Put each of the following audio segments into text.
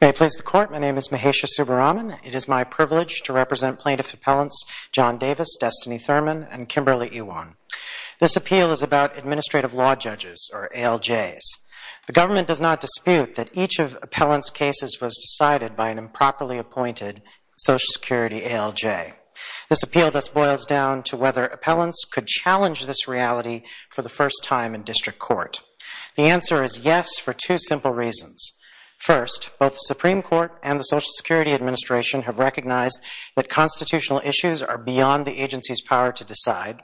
May it please the court, my name is Mahesha Subbaraman. It is my privilege to represent plaintiff appellants John Davis, Destiny Thurman, and Kimberly Ewan. This appeal is about administrative law judges or ALJs. The government does not dispute that each of appellants cases was decided by an improperly appointed Social Security ALJ. This appeal thus boils down to whether appellants could challenge this reality for the first time in district court. The answer is yes for two simple reasons. First, both the Supreme Court and the Social Security Administration have recognized that constitutional issues are beyond the agency's power to decide.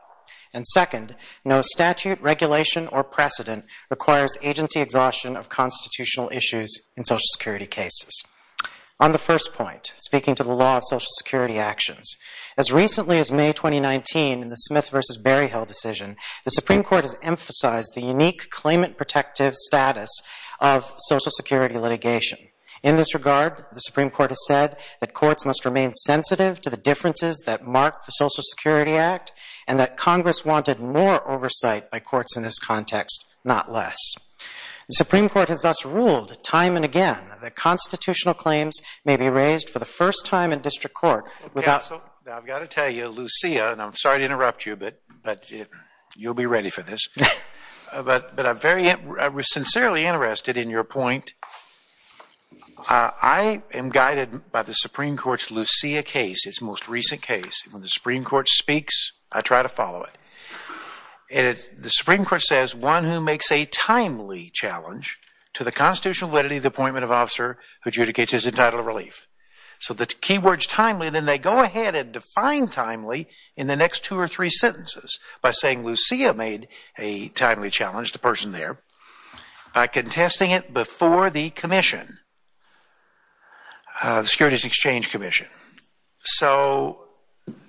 And second, no statute, regulation, or precedent requires agency exhaustion of constitutional issues in Social Security cases. On the first point, speaking to the law of Social Security actions, as recently as May 2019 in the Smith vs. Berryhill decision, the Supreme Court has emphasized the unique claimant protective status of Social Security litigation. In this regard, the Supreme Court has said that courts must remain sensitive to the differences that mark the Social Security Act and that Congress wanted more oversight by courts in this context, not less. The Supreme Court has thus ruled time and again that constitutional claims may be raised for the first time in district court. Counsel, I've got to tell you, Lucia, and I'm sorry to interrupt you, but you'll be I was sincerely interested in your point. I am guided by the Supreme Court's Lucia case, its most recent case. When the Supreme Court speaks, I try to follow it. The Supreme Court says, one who makes a timely challenge to the constitutional validity of the appointment of officer who adjudicates his entitled relief. So the key words timely, then they go ahead and define timely in the next two or three sentences by saying Lucia made a timely challenge, the person there, by contesting it before the commission, the Securities Exchange Commission. So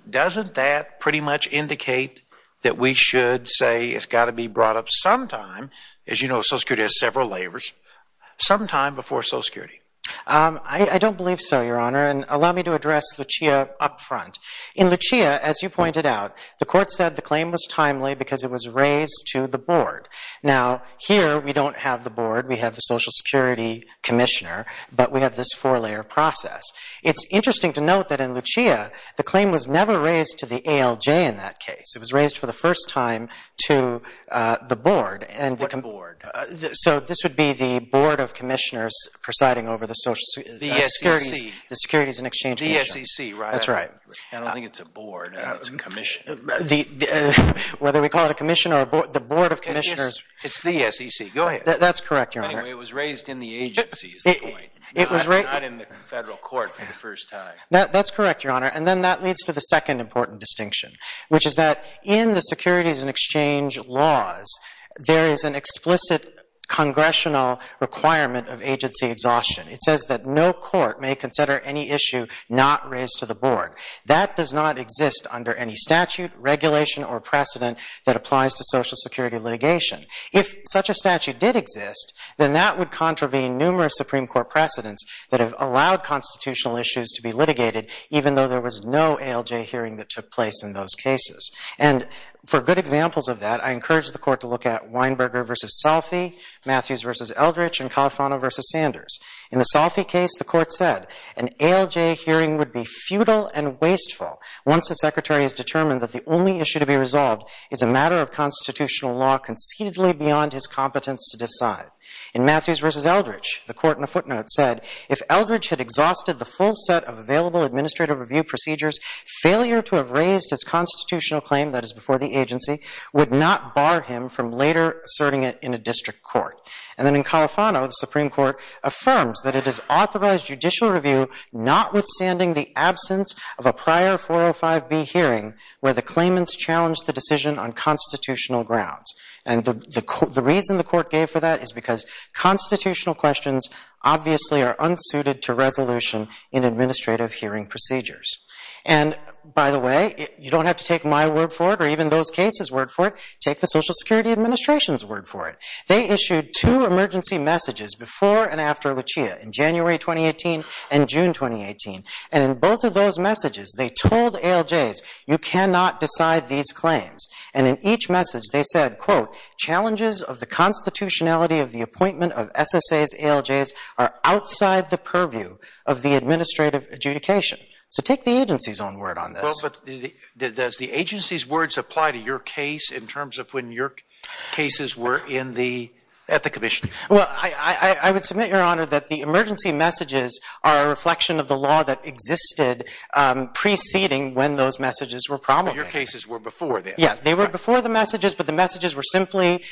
doesn't that pretty much indicate that we should say it's got to be brought up sometime, as you know Social Security has several layers, sometime before Social Security? I don't believe so, Your Honor, and allow me to address Lucia up front. In Lucia, as you pointed out, the court said the claim was timely because it was raised to the board. Now here, we don't have the board, we have the Social Security Commissioner, but we have this four-layer process. It's interesting to note that in Lucia, the claim was never raised to the ALJ in that case. It was raised for the first time to the board. What board? So this would be the Board of Commissioners presiding over the Social Security, the Securities and Exchange Commission. The SEC, right? That's right. I don't think it's a board, it's a commission. Whether we call it a commission or a board, the Board of Commissioners... It's the SEC, go ahead. That's correct, Your Honor. Anyway, it was raised in the agencies, not in the federal court for the first time. That's correct, Your Honor, and then that leads to the second important distinction, which is that in the Securities and Exchange laws, there is an explicit congressional requirement of agency exhaustion. It says that no court may consider any issue not raised to the board. That does not exist under any statute, regulation, or precedent that applies to Social Security litigation. If such a statute did exist, then that would contravene numerous Supreme Court precedents that have allowed constitutional issues to be litigated, even though there was no ALJ hearing that took place in those cases. And for good examples of that, I encourage the court to look at Weinberger v. Salfi, Matthews v. Eldridge, and Califano v. Sanders. In the Salfi case, the court said an ALJ hearing would be futile and wasteful once the Secretary has determined that the only issue to be resolved is a matter of constitutional law conceitedly beyond his competence to decide. In Matthews v. Eldridge, the court, in a footnote, said if Eldridge had exhausted the full set of available administrative review procedures, failure to have raised his constitutional claim that is before the agency would not bar him from later asserting it in a district court. And then in Califano, the Supreme Court affirms that it is authorized judicial review notwithstanding the absence of a prior 405B hearing where the claimants challenged the decision on constitutional grounds. And the reason the court gave for that is because constitutional questions obviously are unsuited to resolution in administrative hearing procedures. And by the way, you don't have to take my word for it or even those cases' word for it, take the Social Security Administration's word for it. They issued two emergency messages in June 2018 and June 2018. And in both of those messages, they told ALJs, you cannot decide these claims. And in each message, they said, quote, challenges of the constitutionality of the appointment of SSA's ALJs are outside the purview of the administrative adjudication. So take the agency's own word on this. Well, but does the agency's words apply to your case in terms of when your cases were in the, at the Commission? Well, I would submit, Your Honor, that the emergency messages are a reflection of the law that existed preceding when those messages were promulgated. Your cases were before that. Yes, they were before the messages, but the messages were simply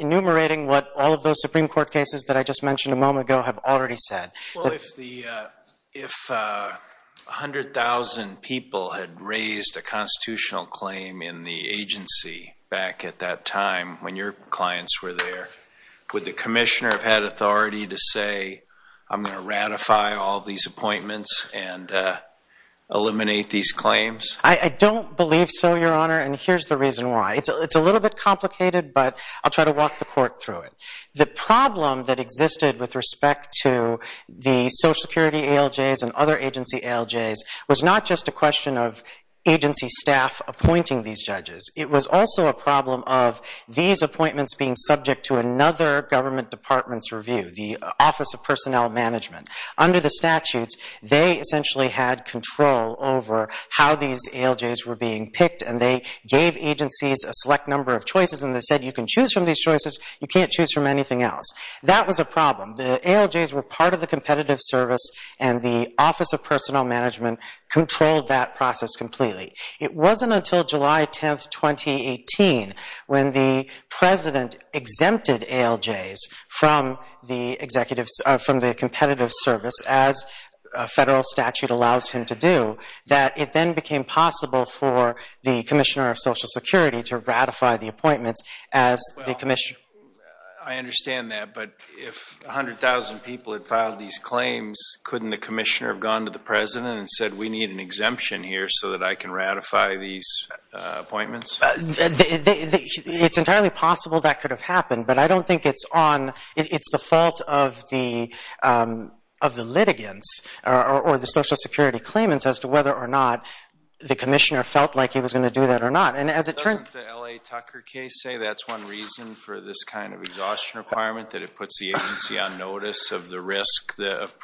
enumerating what all of those Supreme Court cases that I just mentioned a moment ago have already said. Well, if the, if 100,000 people had raised a constitutional claim in the agency back at that time when your clients were there, would the agency say, I'm going to ratify all these appointments and eliminate these claims? I don't believe so, Your Honor, and here's the reason why. It's a little bit complicated, but I'll try to walk the court through it. The problem that existed with respect to the Social Security ALJs and other agency ALJs was not just a question of agency staff appointing these judges. It was also a problem of these appointments being subject to another government department's review, the Office of Personnel Management. Under the statutes, they essentially had control over how these ALJs were being picked, and they gave agencies a select number of choices, and they said, you can choose from these choices, you can't choose from anything else. That was a problem. The ALJs were part of the competitive service, and the Office of Personnel Management controlled that process completely. It wasn't until July 10th, 2018, when the president exempted ALJs from the competitive service, as a federal statute allows him to do, that it then became possible for the Commissioner of Social Security to ratify the appointments as the Commissioner. I understand that, but if 100,000 people had filed these claims, couldn't the Commissioner have gone to the president and said, we need an exemption here so that I can ratify these appointments? It's entirely possible that could have happened, but I don't think it's the fault of the litigants or the Social Security claimants as to whether or not the Commissioner felt like he was going to do that or not. Doesn't the L.A. Tucker case say that's one reason for this kind of exhaustion requirement, that it puts the agency on notice of the risk of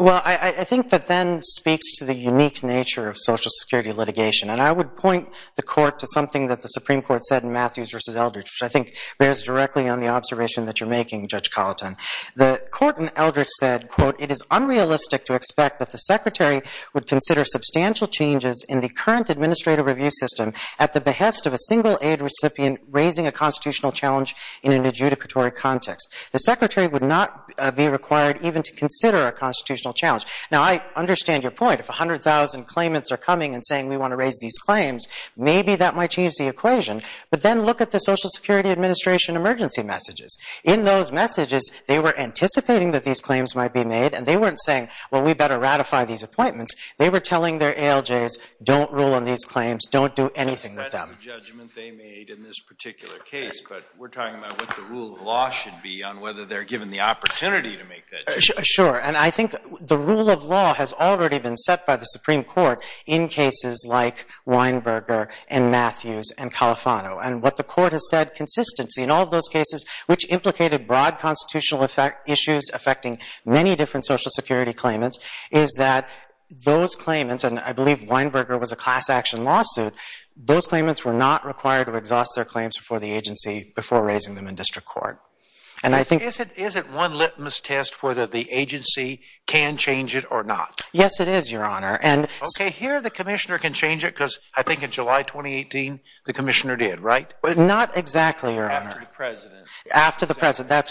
Well, I think that then speaks to the unique nature of Social Security litigation, and I would point the Court to something that the Supreme Court said in Matthews v. Eldridge, which I think bears directly on the observation that you're making, Judge Colleton. The Court in Eldridge said, quote, it is unrealistic to expect that the Secretary would consider substantial changes in the current administrative review system at the behest of a single-aid recipient raising a constitutional challenge in an adjudicatory context. The Secretary would not be required even to consider a constitutional challenge. Now, I understand your point. If 100,000 claimants are coming and saying we want to raise these claims, maybe that might change the equation, but then look at the Social Security Administration emergency messages. In those messages, they were anticipating that these claims might be made, and they weren't saying, well, we better ratify these appointments. They were telling their ALJs, don't rule on these claims, don't do anything with them. That's the judgment they made in this particular case, but we're talking about what the rule of law should be on whether they're given the opportunity to make that judgment. Sure, and I think the rule of law has already been set by the Supreme Court in cases like Weinberger and Matthews and Califano, and what the Court has said, consistency in all of those cases, which implicated broad constitutional issues affecting many different Social Security claimants, is that those claimants, and I believe Weinberger was a class-action lawsuit, those claimants were not required to exhaust their claims before the agency, before raising them in district court, and I think... Is it one litmus test whether the agency can change it or not? Yes, it is, Your Honor, and... Okay, here the Commissioner can change it because I think in July 2018, the Commissioner did, right? Not exactly, Your Honor. After the President. After the President,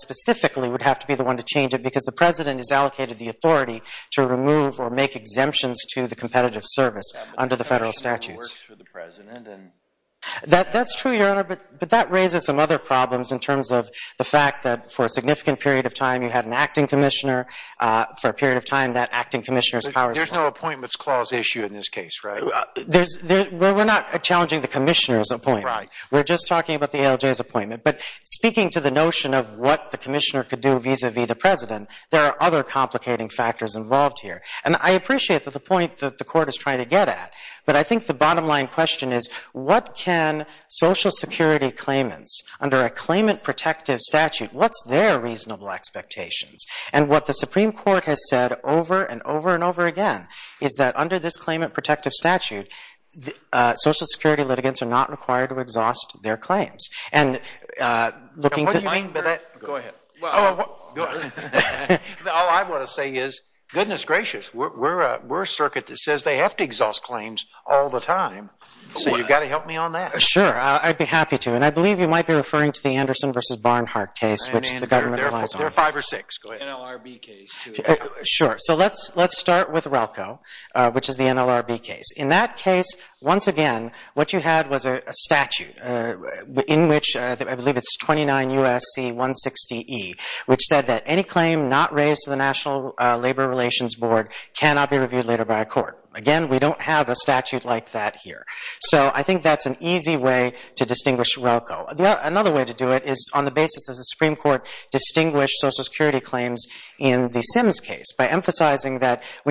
specifically, would have to be the one to change it because the President has allocated the authority to remove or make exemptions to the competitive service under the federal statutes. That's true, Your Honor, but that raises some other problems in terms of the fact that for a significant period of time, you had an Acting Commissioner. For a period of time, that Acting Commissioner's powers... There's no Appointments Clause issue in this case, right? We're not challenging the Commissioner's appointment. We're just talking about the ALJ's appointment, but speaking to the notion of what the Commissioner could do vis-a-vis the President, there are other complicating factors involved here, and I appreciate that the point that the Court is trying to get at, but I think the bottom line question is, what can Social Security claimants, under a Claimant Protective Statute, what's their reasonable expectations? And what the Supreme Court has said over and over and over again is that under this Claimant Protective Statute, Social Security claim... Go ahead. All I want to say is, goodness gracious, we're a circuit that says they have to exhaust claims all the time, so you've got to help me on that. Sure, I'd be happy to, and I believe you might be referring to the Anderson v. Barnhart case, which the government relies on. There are five or six. Sure, so let's start with RELCO, which is the NLRB case. In that case, once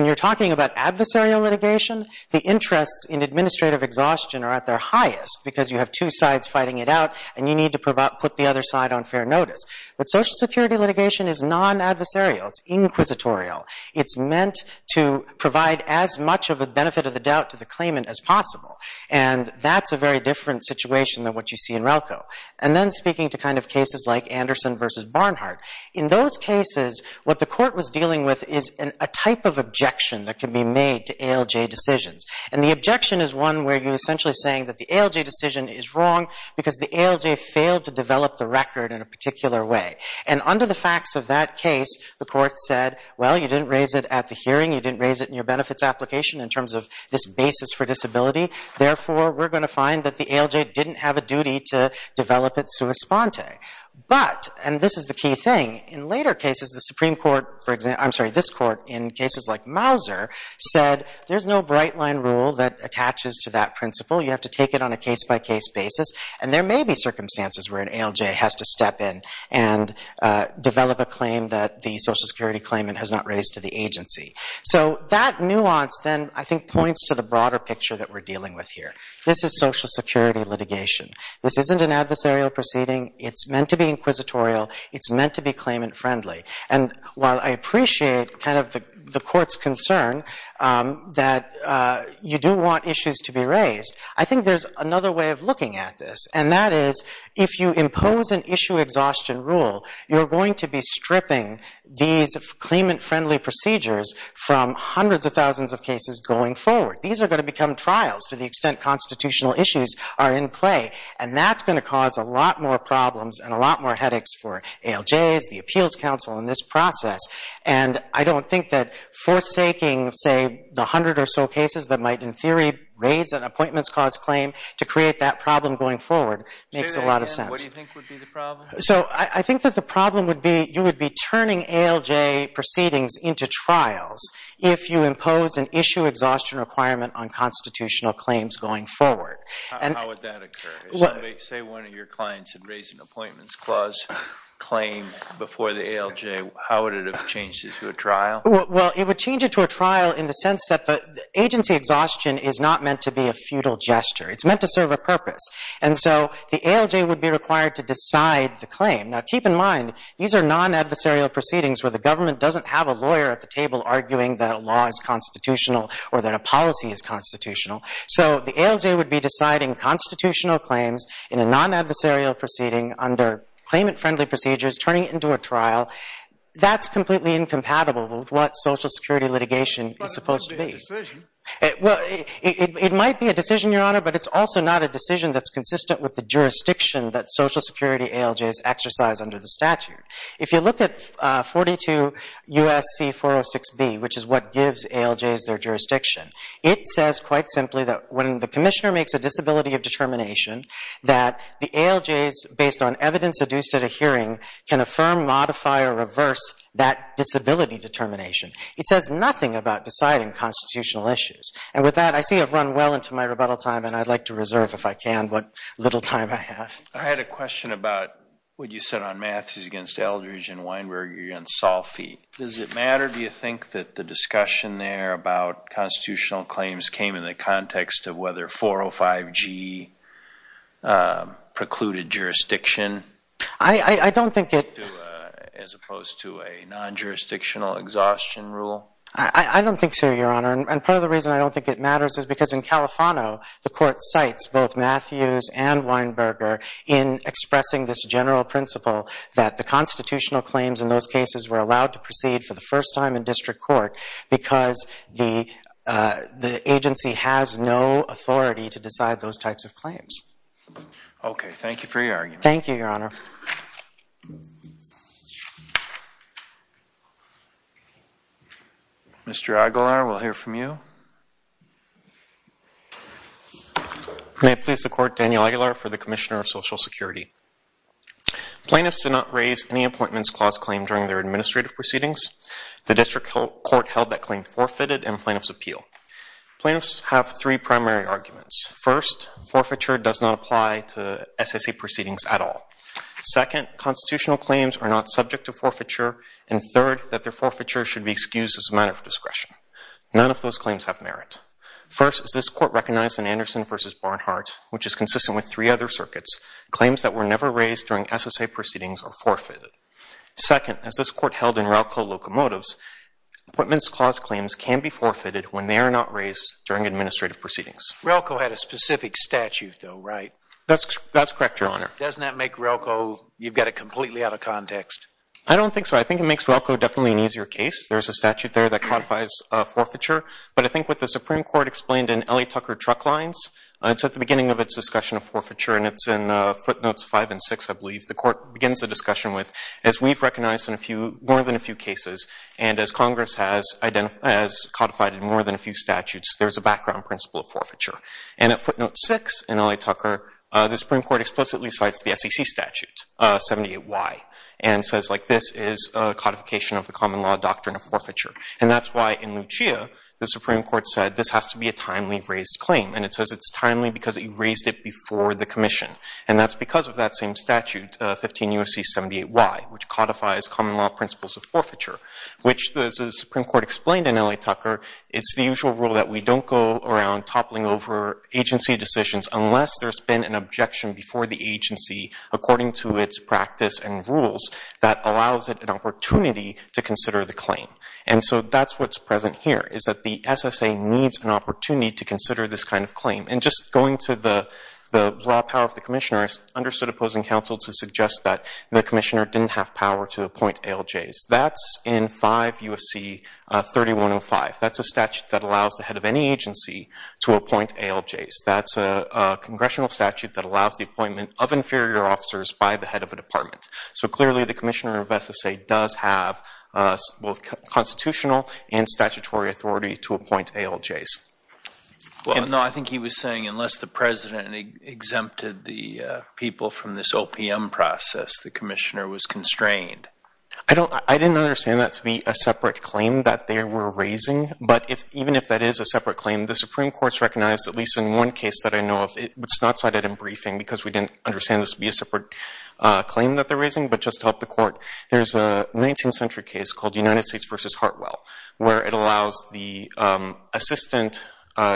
you're talking about adversarial litigation, the interests in administrative exhaustion are at their highest, because you have two sides fighting it out, and you need to put the other side on fair notice. But Social Security litigation is non-adversarial. It's inquisitorial. It's meant to provide as much of a benefit of the doubt to the claimant as possible, and that's a very different situation than what you see in RELCO. And then speaking to kind of cases like Anderson v. Barnhart, in those cases what the Court was dealing with is a type of objection that can be made to ALJ decisions, and the objection is one where you're essentially saying that the ALJ decision is wrong because the ALJ failed to develop the record in a particular way. And under the facts of that case, the Court said, well, you didn't raise it at the hearing, you didn't raise it in your benefits application in terms of this basis for disability, therefore we're going to find that the ALJ didn't have a duty to develop it sua sponte. But, and this is the key thing, in later cases the Supreme Court, I'm sorry, this Court, in cases like Mauser, said there's no bright-line rule that attaches to that principle. You have to take it on a case-by-case basis, and there may be circumstances where an ALJ has to step in and develop a claim that the Social Security claimant has not raised to the agency. So that nuance then, I think, points to the broader picture that we're dealing with here. This is Social Security litigation. This isn't an adversarial proceeding. It's meant to be inquisitorial. It's meant to be claimant-friendly. And while I appreciate kind of the Court's concern that you do want issues to be raised, I think there's another way of looking at this, and that is if you impose an issue exhaustion rule, you're going to be stripping these claimant-friendly procedures from hundreds of thousands of cases going forward. These are going to become trials to the extent constitutional issues are in play, and that's going to cause a lot more problems and a lot more headaches for ALJs, the Appeals Council, in this process. And I don't think that forsaking, say, the hundred or so cases that might in theory raise an Appointments Clause claim to create that problem going forward makes a lot of sense. So I think that the problem would be, you would be turning ALJ proceedings into trials if you impose an issue exhaustion requirement on constitutional claims going forward. Say one of your clients had raised an Appointments Clause claim before the ALJ, how would it have changed it to a trial? Well, it would change it to a trial in the sense that the agency exhaustion is not meant to be a futile gesture. It's meant to serve a purpose. And so the ALJ would be required to decide the claim. Now keep in mind, these are non-adversarial proceedings where the government doesn't have a lawyer at the table arguing that a law is constitutional or that a policy is constitutional. So the ALJ would be deciding constitutional claims in a non-adversarial proceeding under claimant-friendly procedures, turning it into a trial. That's completely incompatible with what Social Security litigation is supposed to be. It might be a decision, Your Honor, but it's also not a decision that's consistent with the jurisdiction that Social Security ALJs exercise under the statute. If you look at 42 U.S.C. 406b, which is what gives ALJs their jurisdiction, it says quite simply that when the commissioner makes a disability of determination, that the ALJs, based on evidence adduced at a hearing, can affirm, modify, or reverse that disability determination. It says nothing about deciding constitutional issues. And with that, I see I've run well into my rebuttal time and I'd like to reserve, if I can, what little time I have. I had a question about what you said on Matthews against Eldridge and Weinberg against Salfi. Does it matter, do you think, that the discussion there about constitutional claims came in the context of whether 405g precluded jurisdiction? I don't think it. As opposed to a non-jurisdictional exhaustion rule? I don't think so, Your Honor, and part of the reason I don't think it matters is because in Califano, the court cites both Matthews and Weinberger in expressing this general principle that the constitutional claims in those cases were allowed to proceed for the first time in district court because the agency has no authority to decide those types of claims. Okay, thank you for your argument. Thank you, Your Honor. Mr. Aguilar, we'll hear from you. May it please the court, Daniel Aguilar for the Commissioner of Social Security. Plaintiffs did not raise any appointments clause claim during their administrative proceedings. The district court held that claim forfeited in plaintiff's appeal. Plaintiffs have three primary arguments. First, forfeiture does not apply to SSA proceedings at all. Second, constitutional claims are not subject to forfeiture, and third, that their forfeiture should be excused as a matter of discretion. None of those claims have merit. First, as this court recognized in Anderson v. Barnhart, which is consistent with three other circuits, claims that were never raised during SSA proceedings are forfeited. Second, as this court held in Relco Locomotives, appointments clause claims can be forfeited when they are not raised during administrative proceedings. Relco had a specific statute though, right? That's correct, Your Honor. Doesn't that make Relco, you've got it completely out of context? I don't think so. I think it makes Relco definitely an easier case. There's a statute there that codifies forfeiture, but I think what the Supreme Court explained in Ellie Tucker Truck Lines, it's at the beginning of its discussion of forfeiture, and it's in footnotes five and six, I believe, the court begins the discussion with, as we've recognized in a few, more than a few cases, and as Congress has identified, has codified in more than a few statutes, there's a background principle of forfeiture. And at footnote six in Ellie Tucker, the Supreme Court explicitly cites the SEC statute, 78Y, and says like this is a codification of the common law doctrine of forfeiture. And that's why in Lucia, the Supreme Court said this has to be a timely raised claim, and it says it's timely because you raised it before the Commission. And that's because of that same statute, 15 U.S.C. 78Y, which codifies common law principles of forfeiture, which the Supreme Court explained in Ellie Tucker, it's the usual rule that we don't go around toppling over agency decisions unless there's been an objection before the agency according to its practice and rules that allows it an opportunity to consider the claim. And so that's what's present here, is that the SSA needs an opportunity to consider this kind of claim. And just going to the law power of the Commissioners, understood opposing counsel to suggest that the Commissioner didn't have power to appoint ALJs. That's in 5 U.S.C. 3105. That's a statute that allows the head of any agency to appoint ALJs. That's a congressional statute that allows the appointment of inferior officers by the head of a department. So clearly the Commissioner of SSA does have both constitutional and statutory authority to appoint ALJs. No, I think he was saying unless the President exempted the people from this I didn't understand that to be a separate claim that they were raising, but if even if that is a separate claim, the Supreme Court's recognized, at least in one case that I know of, it's not cited in briefing because we didn't understand this to be a separate claim that they're raising, but just to help the Court, there's a 19th century case called United States v. Hartwell, where it allows the assistant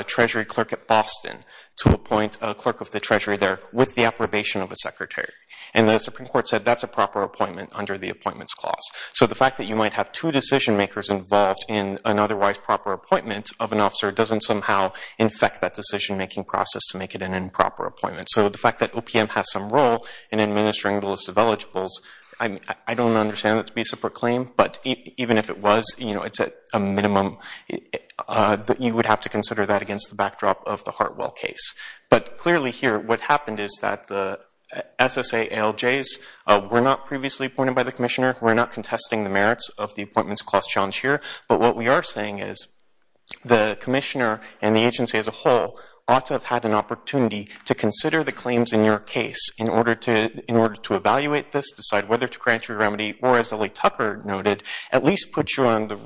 Treasury clerk at Boston to appoint a clerk of the Treasury there with the approbation of a secretary. And the Supreme Court said that's a proper appointment under the Appointments Clause. So the fact that you might have two decision-makers involved in an otherwise proper appointment of an officer doesn't somehow infect that decision-making process to make it an improper appointment. So the fact that OPM has some role in administering the list of eligibles, I don't understand that to be a separate claim, but even if it was, you know, it's at a minimum that you would have to consider that against the backdrop of the Hartwell case. But clearly here what happened is that the appointed by the Commissioner, we're not contesting the merits of the Appointments Clause challenge here, but what we are saying is the Commissioner and the agency as a whole ought to have had an opportunity to consider the claims in your case in order to, in order to evaluate this, decide whether to grant your remedy, or as Ellie Tucker noted, at least put you on the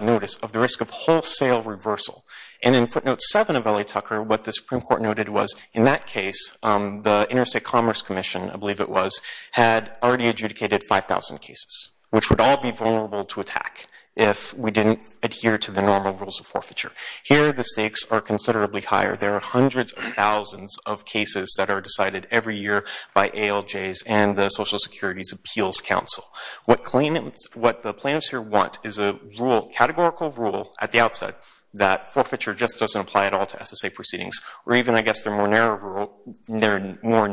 notice of the risk of wholesale reversal. And in footnote 7 of Ellie Tucker, what the Supreme Court noted was in that case, the Interstate Commerce Commission, I indicated 5,000 cases, which would all be vulnerable to attack if we didn't adhere to the normal rules of forfeiture. Here the stakes are considerably higher. There are hundreds of thousands of cases that are decided every year by ALJs and the Social Security's Appeals Council. What claimants, what the plaintiffs here want is a rule, categorical rule, at the outset that forfeiture just doesn't apply at all to SSA proceedings, or even I guess the more narrow rule, their more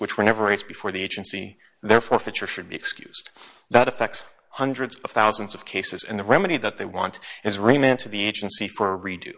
which were never raised before the agency, their forfeiture should be excused. That affects hundreds of thousands of cases, and the remedy that they want is remand to the agency for a redo.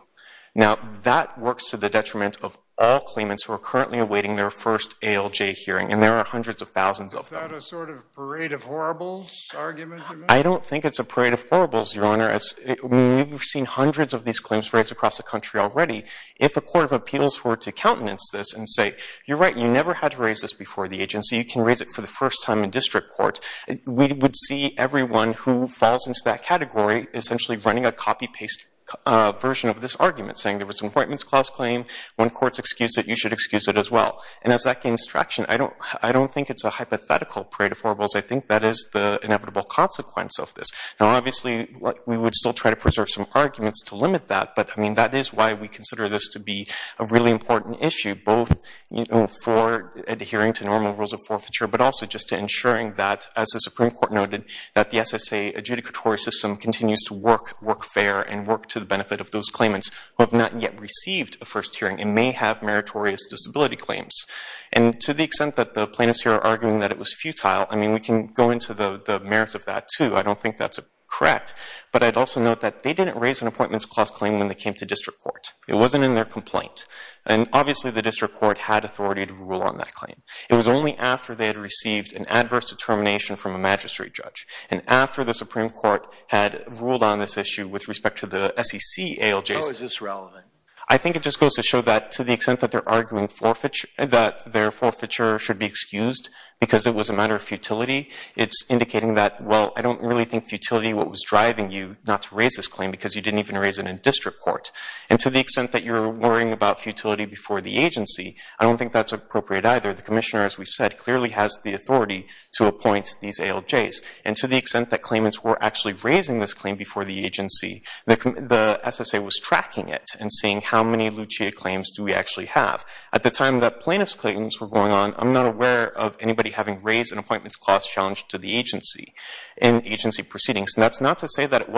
Now that works to the detriment of all claimants who are currently awaiting their first ALJ hearing, and there are hundreds of thousands of them. Is that a sort of parade of horribles argument? I don't think it's a parade of horribles, Your Honor, as we've seen hundreds of these claims raised across the country already. If a court of appeals were to countenance this and say, you're right, you never had to raise this before the agency, you can raise it for the first time in district court, we would see everyone who falls into that category essentially running a copy-paste version of this argument, saying there was an Appointments Clause claim, when courts excuse it, you should excuse it as well. And as that gains traction, I don't think it's a hypothetical parade of horribles, I think that is the inevitable consequence of this. Now obviously, we would still try to preserve some arguments to limit that, but I mean that is why we consider this to be a really important issue, both for adhering to normal rules of forfeiture, but also just to ensuring that, as the Supreme Court noted, that the SSA adjudicatory system continues to work fair and work to the benefit of those claimants who have not yet received a first hearing and may have meritorious disability claims. And to the extent that the plaintiffs here are arguing that it was futile, I mean we can go into the merits of that too. I don't think that's correct, but I'd also note that they didn't raise an Appointments Clause claim when they came to district court. It wasn't in their complaint. And obviously the district court had authority to rule on that claim. It was only after they had received an adverse determination from a magistrate judge, and after the Supreme Court had ruled on this issue with respect to the SEC ALJ system. How is this relevant? I think it just goes to show that, to the extent that they're arguing that their forfeiture should be excused because it was a matter of futility, it's indicating that, well, I don't really think futility what was driving you not to raise this And to the extent that you're worrying about futility before the agency, I don't think that's appropriate either. The commissioner, as we've said, clearly has the authority to appoint these ALJs. And to the extent that claimants were actually raising this claim before the agency, the SSA was tracking it and seeing how many Lucia claims do we actually have. At the time that plaintiffs' claims were going on, I'm not aware of anybody having raised an Appointments Clause challenge to the agency in agency proceedings. And that's not to say that it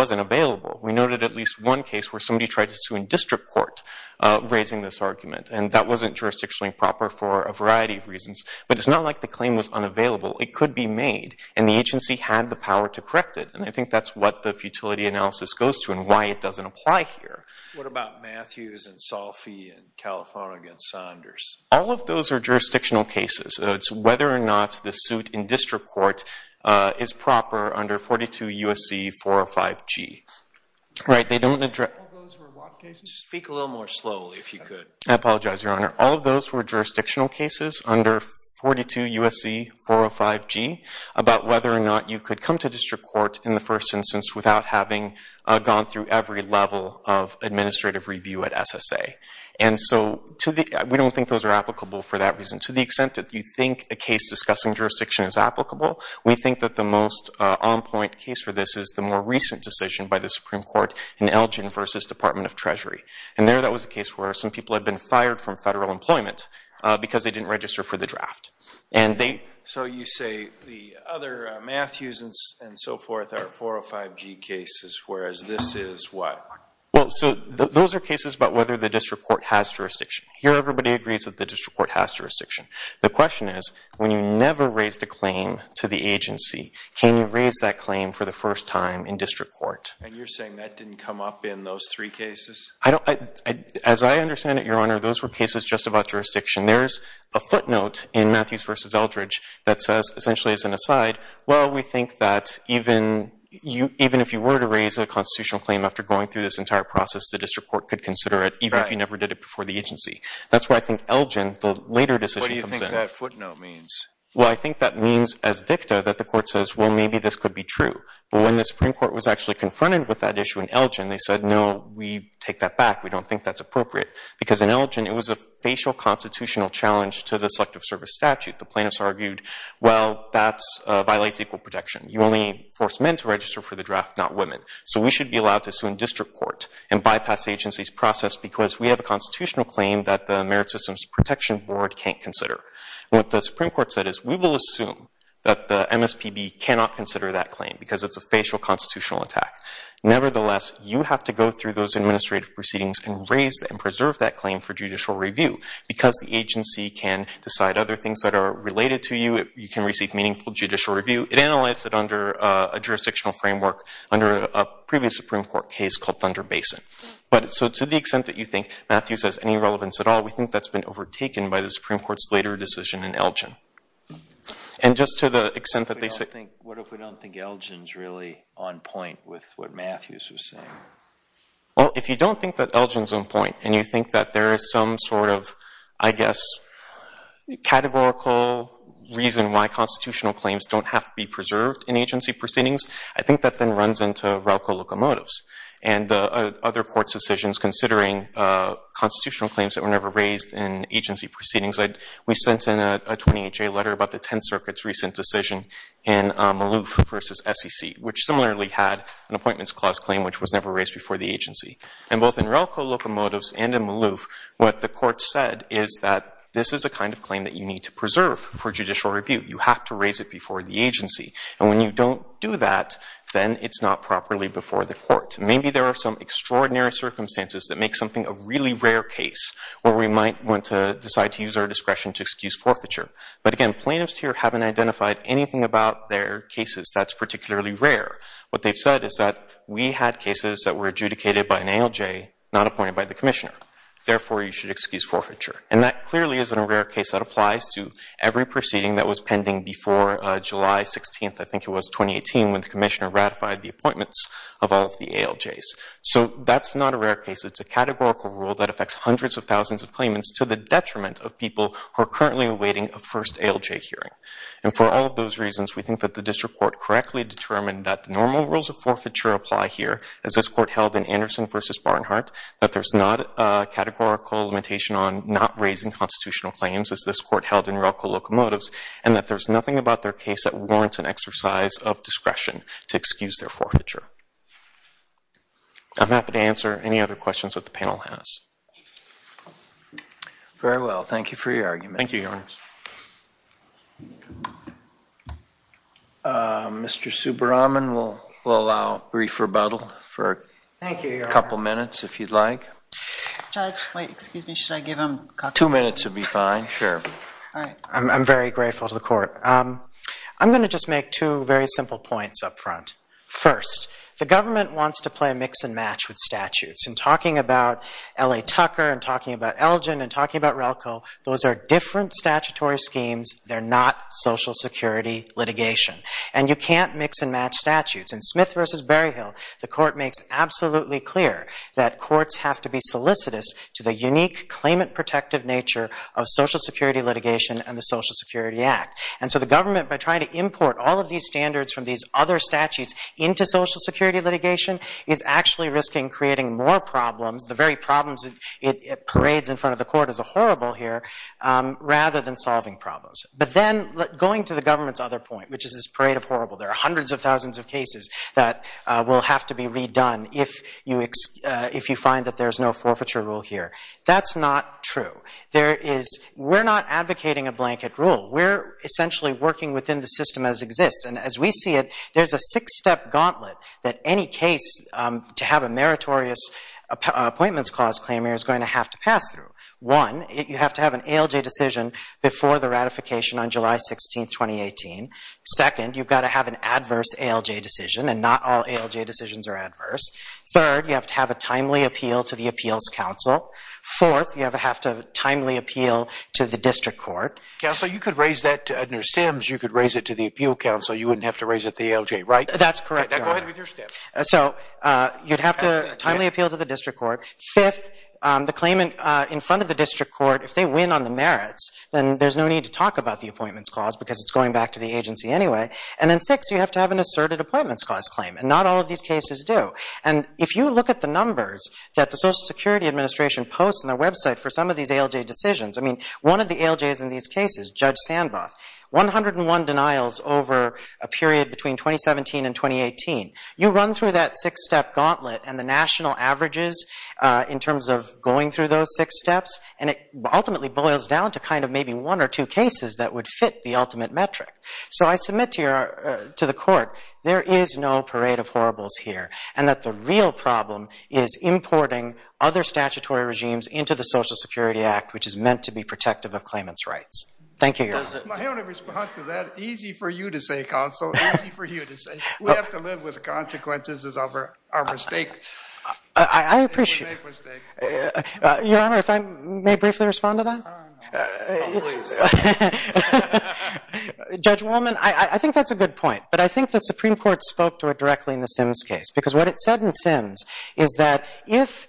tried to sue in district court raising this argument. And that wasn't jurisdictionally proper for a variety of reasons. But it's not like the claim was unavailable. It could be made. And the agency had the power to correct it. And I think that's what the futility analysis goes to and why it doesn't apply here. What about Matthews and Salfi and Califano against Saunders? All of those are jurisdictional cases. It's whether or not the suit in district court is proper under 42 U.S.C. 405 G. Right? All of those were what cases? Speak a little more slowly if you could. I apologize, Your Honor. All of those were jurisdictional cases under 42 U.S.C. 405 G about whether or not you could come to district court in the first instance without having gone through every level of administrative review at SSA. And so we don't think those are applicable for that reason. To the extent that you think a case discussing jurisdiction is applicable, we think that the most on-point case for this is the more recent decision by the Supreme Court in Elgin versus Department of Treasury. And there that was a case where some people had been fired from federal employment because they didn't register for the draft. And they... So you say the other Matthews and so forth are 405 G cases, whereas this is what? Well, so those are cases about whether the district court has jurisdiction. Here everybody agrees that the district court has jurisdiction. The question is, when you never raised a claim to the agency, can you raise that claim for the first time in district court? And you're saying that didn't come up in those three cases? I don't... As I understand it, Your Honor, those were cases just about jurisdiction. There's a footnote in Matthews versus Eldridge that says, essentially, as an aside, well, we think that even if you were to raise a constitutional claim after going through this entire process, the district court could consider it, even if you never did it before the agency. That's why I think Elgin, the later decision comes in. What do you think that footnote means? Well, I think that means, as dicta, that the court says, well, maybe this could be confronted with that issue in Elgin. They said, no, we take that back. We don't think that's appropriate. Because in Elgin, it was a facial constitutional challenge to the Selective Service statute. The plaintiffs argued, well, that violates equal protection. You only force men to register for the draft, not women. So we should be allowed to assume district court and bypass the agency's process because we have a constitutional claim that the Merit Systems Protection Board can't consider. What the Supreme Court said is, we will assume that the Nevertheless, you have to go through those administrative proceedings and raise and preserve that claim for judicial review. Because the agency can decide other things that are related to you, you can receive meaningful judicial review. It analyzed it under a jurisdictional framework, under a previous Supreme Court case called Thunder Basin. So to the extent that you think, Matthew says, any relevance at all, we think that's been overtaken by the Supreme Court's later decision in Elgin. And just to the extent that they said- What if we don't think Elgin's really on point with what Matthew's was saying? Well, if you don't think that Elgin's on point, and you think that there is some sort of, I guess, categorical reason why constitutional claims don't have to be preserved in agency proceedings, I think that then runs into Ralco Locomotives. And the other court's decisions, considering constitutional claims that were never raised in agency proceedings. We sent in a 28-J letter about the Supreme Court's recent decision in Maloof versus SEC, which similarly had an appointments clause claim which was never raised before the agency. And both in Ralco Locomotives and in Maloof, what the court said is that this is a kind of claim that you need to preserve for judicial review. You have to raise it before the agency. And when you don't do that, then it's not properly before the court. Maybe there are some extraordinary circumstances that make something a really rare case where we might want to decide to use our discretion to excuse haven't identified anything about their cases that's particularly rare. What they've said is that we had cases that were adjudicated by an ALJ, not appointed by the Commissioner. Therefore, you should excuse forfeiture. And that clearly isn't a rare case that applies to every proceeding that was pending before July 16th, I think it was, 2018, when the Commissioner ratified the appointments of all of the ALJs. So that's not a rare case. It's a categorical rule that affects hundreds of thousands of claimants to the detriment of people who And for all of those reasons, we think that the district court correctly determined that the normal rules of forfeiture apply here, as this court held in Anderson v. Barnhart, that there's not a categorical limitation on not raising constitutional claims, as this court held in Alco Locomotives, and that there's nothing about their case that warrants an exercise of discretion to excuse their forfeiture. I'm happy to answer any other questions that the panel has. Very well. Thank you for your argument. Thank you, Your Honor. Mr. Subbaraman, we'll allow a brief rebuttal for a couple minutes, if you'd like. Judge, wait, excuse me, should I give him coffee? Two minutes would be fine, sure. I'm very grateful to the court. I'm going to just make two very simple points up front. First, the government wants to play a mix and match with statutes. And talking about L.A. Tucker, and talking about Elgin, and talking about Relco, those are different statutory schemes. They're not Social Security litigation. And you can't mix and match statutes. In Smith v. Berryhill, the court makes absolutely clear that courts have to be solicitous to the unique claimant-protective nature of Social Security litigation and the Social Security Act. And so the government, by trying to import all of these standards from these other statutes into Social Security litigation, is actually risking creating more problems. The very problems it parades in front of the court as a horrible here, rather than solving problems. But then, going to the government's other point, which is this parade of horrible, there are hundreds of thousands of cases that will have to be redone if you find that there's no forfeiture rule here. That's not true. We're not advocating a blanket rule. We're essentially working within the system as exists. And as we see it, there's a six-step gauntlet that any case to have a meritorious Appointments Clause claim here is going to have to pass through. One, you have to have an ALJ decision before the ratification on July 16, 2018. Second, you've got to have an adverse ALJ decision. And not all ALJ decisions are adverse. Third, you have to have a timely appeal to the Appeals Council. Fourth, you have to have a timely appeal to the District Court. Counsel, you could raise that to Edna Sims. You could raise it to the Appeal Council. You wouldn't have to raise it to the ALJ, right? That's correct, Your Honor. Go ahead with your step. So you'd have to timely appeal to the District Court. Fifth, the claim in front of the District Court, if they win on the merits, then there's no need to talk about the Appointments Clause because it's going back to the agency anyway. And then sixth, you have to have an asserted Appointments Clause claim. And not all of these cases do. And if you look at the numbers that the Social Security Administration posts on their website for some of these ALJ decisions, I mean, one of the ALJs in these cases, Judge Sandboth, 101 denials over a period between 2017 and 2018. You run through that six-step gauntlet and the national averages in terms of going through those six steps, and it ultimately boils down to kind of maybe one or two cases that would fit the ultimate metric. So I submit to the Court, there is no parade of horribles here and that the real problem is importing other statutory regimes into the Social Security Act, which is meant to be protective of claimants' rights. Thank you, Your Honor. My only response to that, easy for you to say, Counsel, easy for you to say. We have to live with the consequences of our mistake. I appreciate it. Your Honor, if I may briefly respond to that? Please. Judge Wolman, I think that's a good point. But I think the Supreme Court spoke to it directly in the Sims case. Because what it said in Sims is that if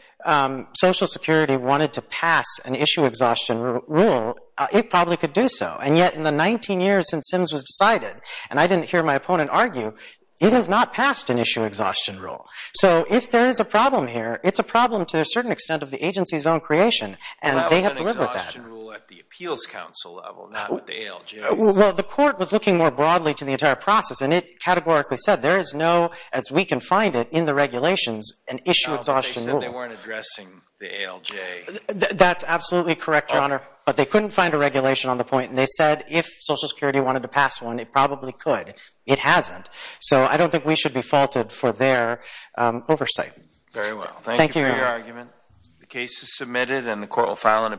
Social Security wanted to pass an issue exhaustion rule, it probably could do so. And yet in the 19 years since Sims was decided, and I didn't hear my opponent argue, it has not passed an issue exhaustion rule. So if there is a problem here, it's a problem to a certain extent of the agency's own creation, and they have to live with that. Well, that was an exhaustion rule at the Appeals Council level, not with the ALJ. Well, the Court was looking more broadly to the entire process, and it categorically said there is no, as we can find it in the regulations, an issue exhaustion rule. No, but they said they weren't addressing the ALJ. That's absolutely correct, Your Honor. But they couldn't find a regulation on the point, and they said if Social Security wanted to pass one, it probably could. It hasn't. So I don't think we should be faulted for their oversight. Very well. Thank you for your argument. Thank you, Your Honor.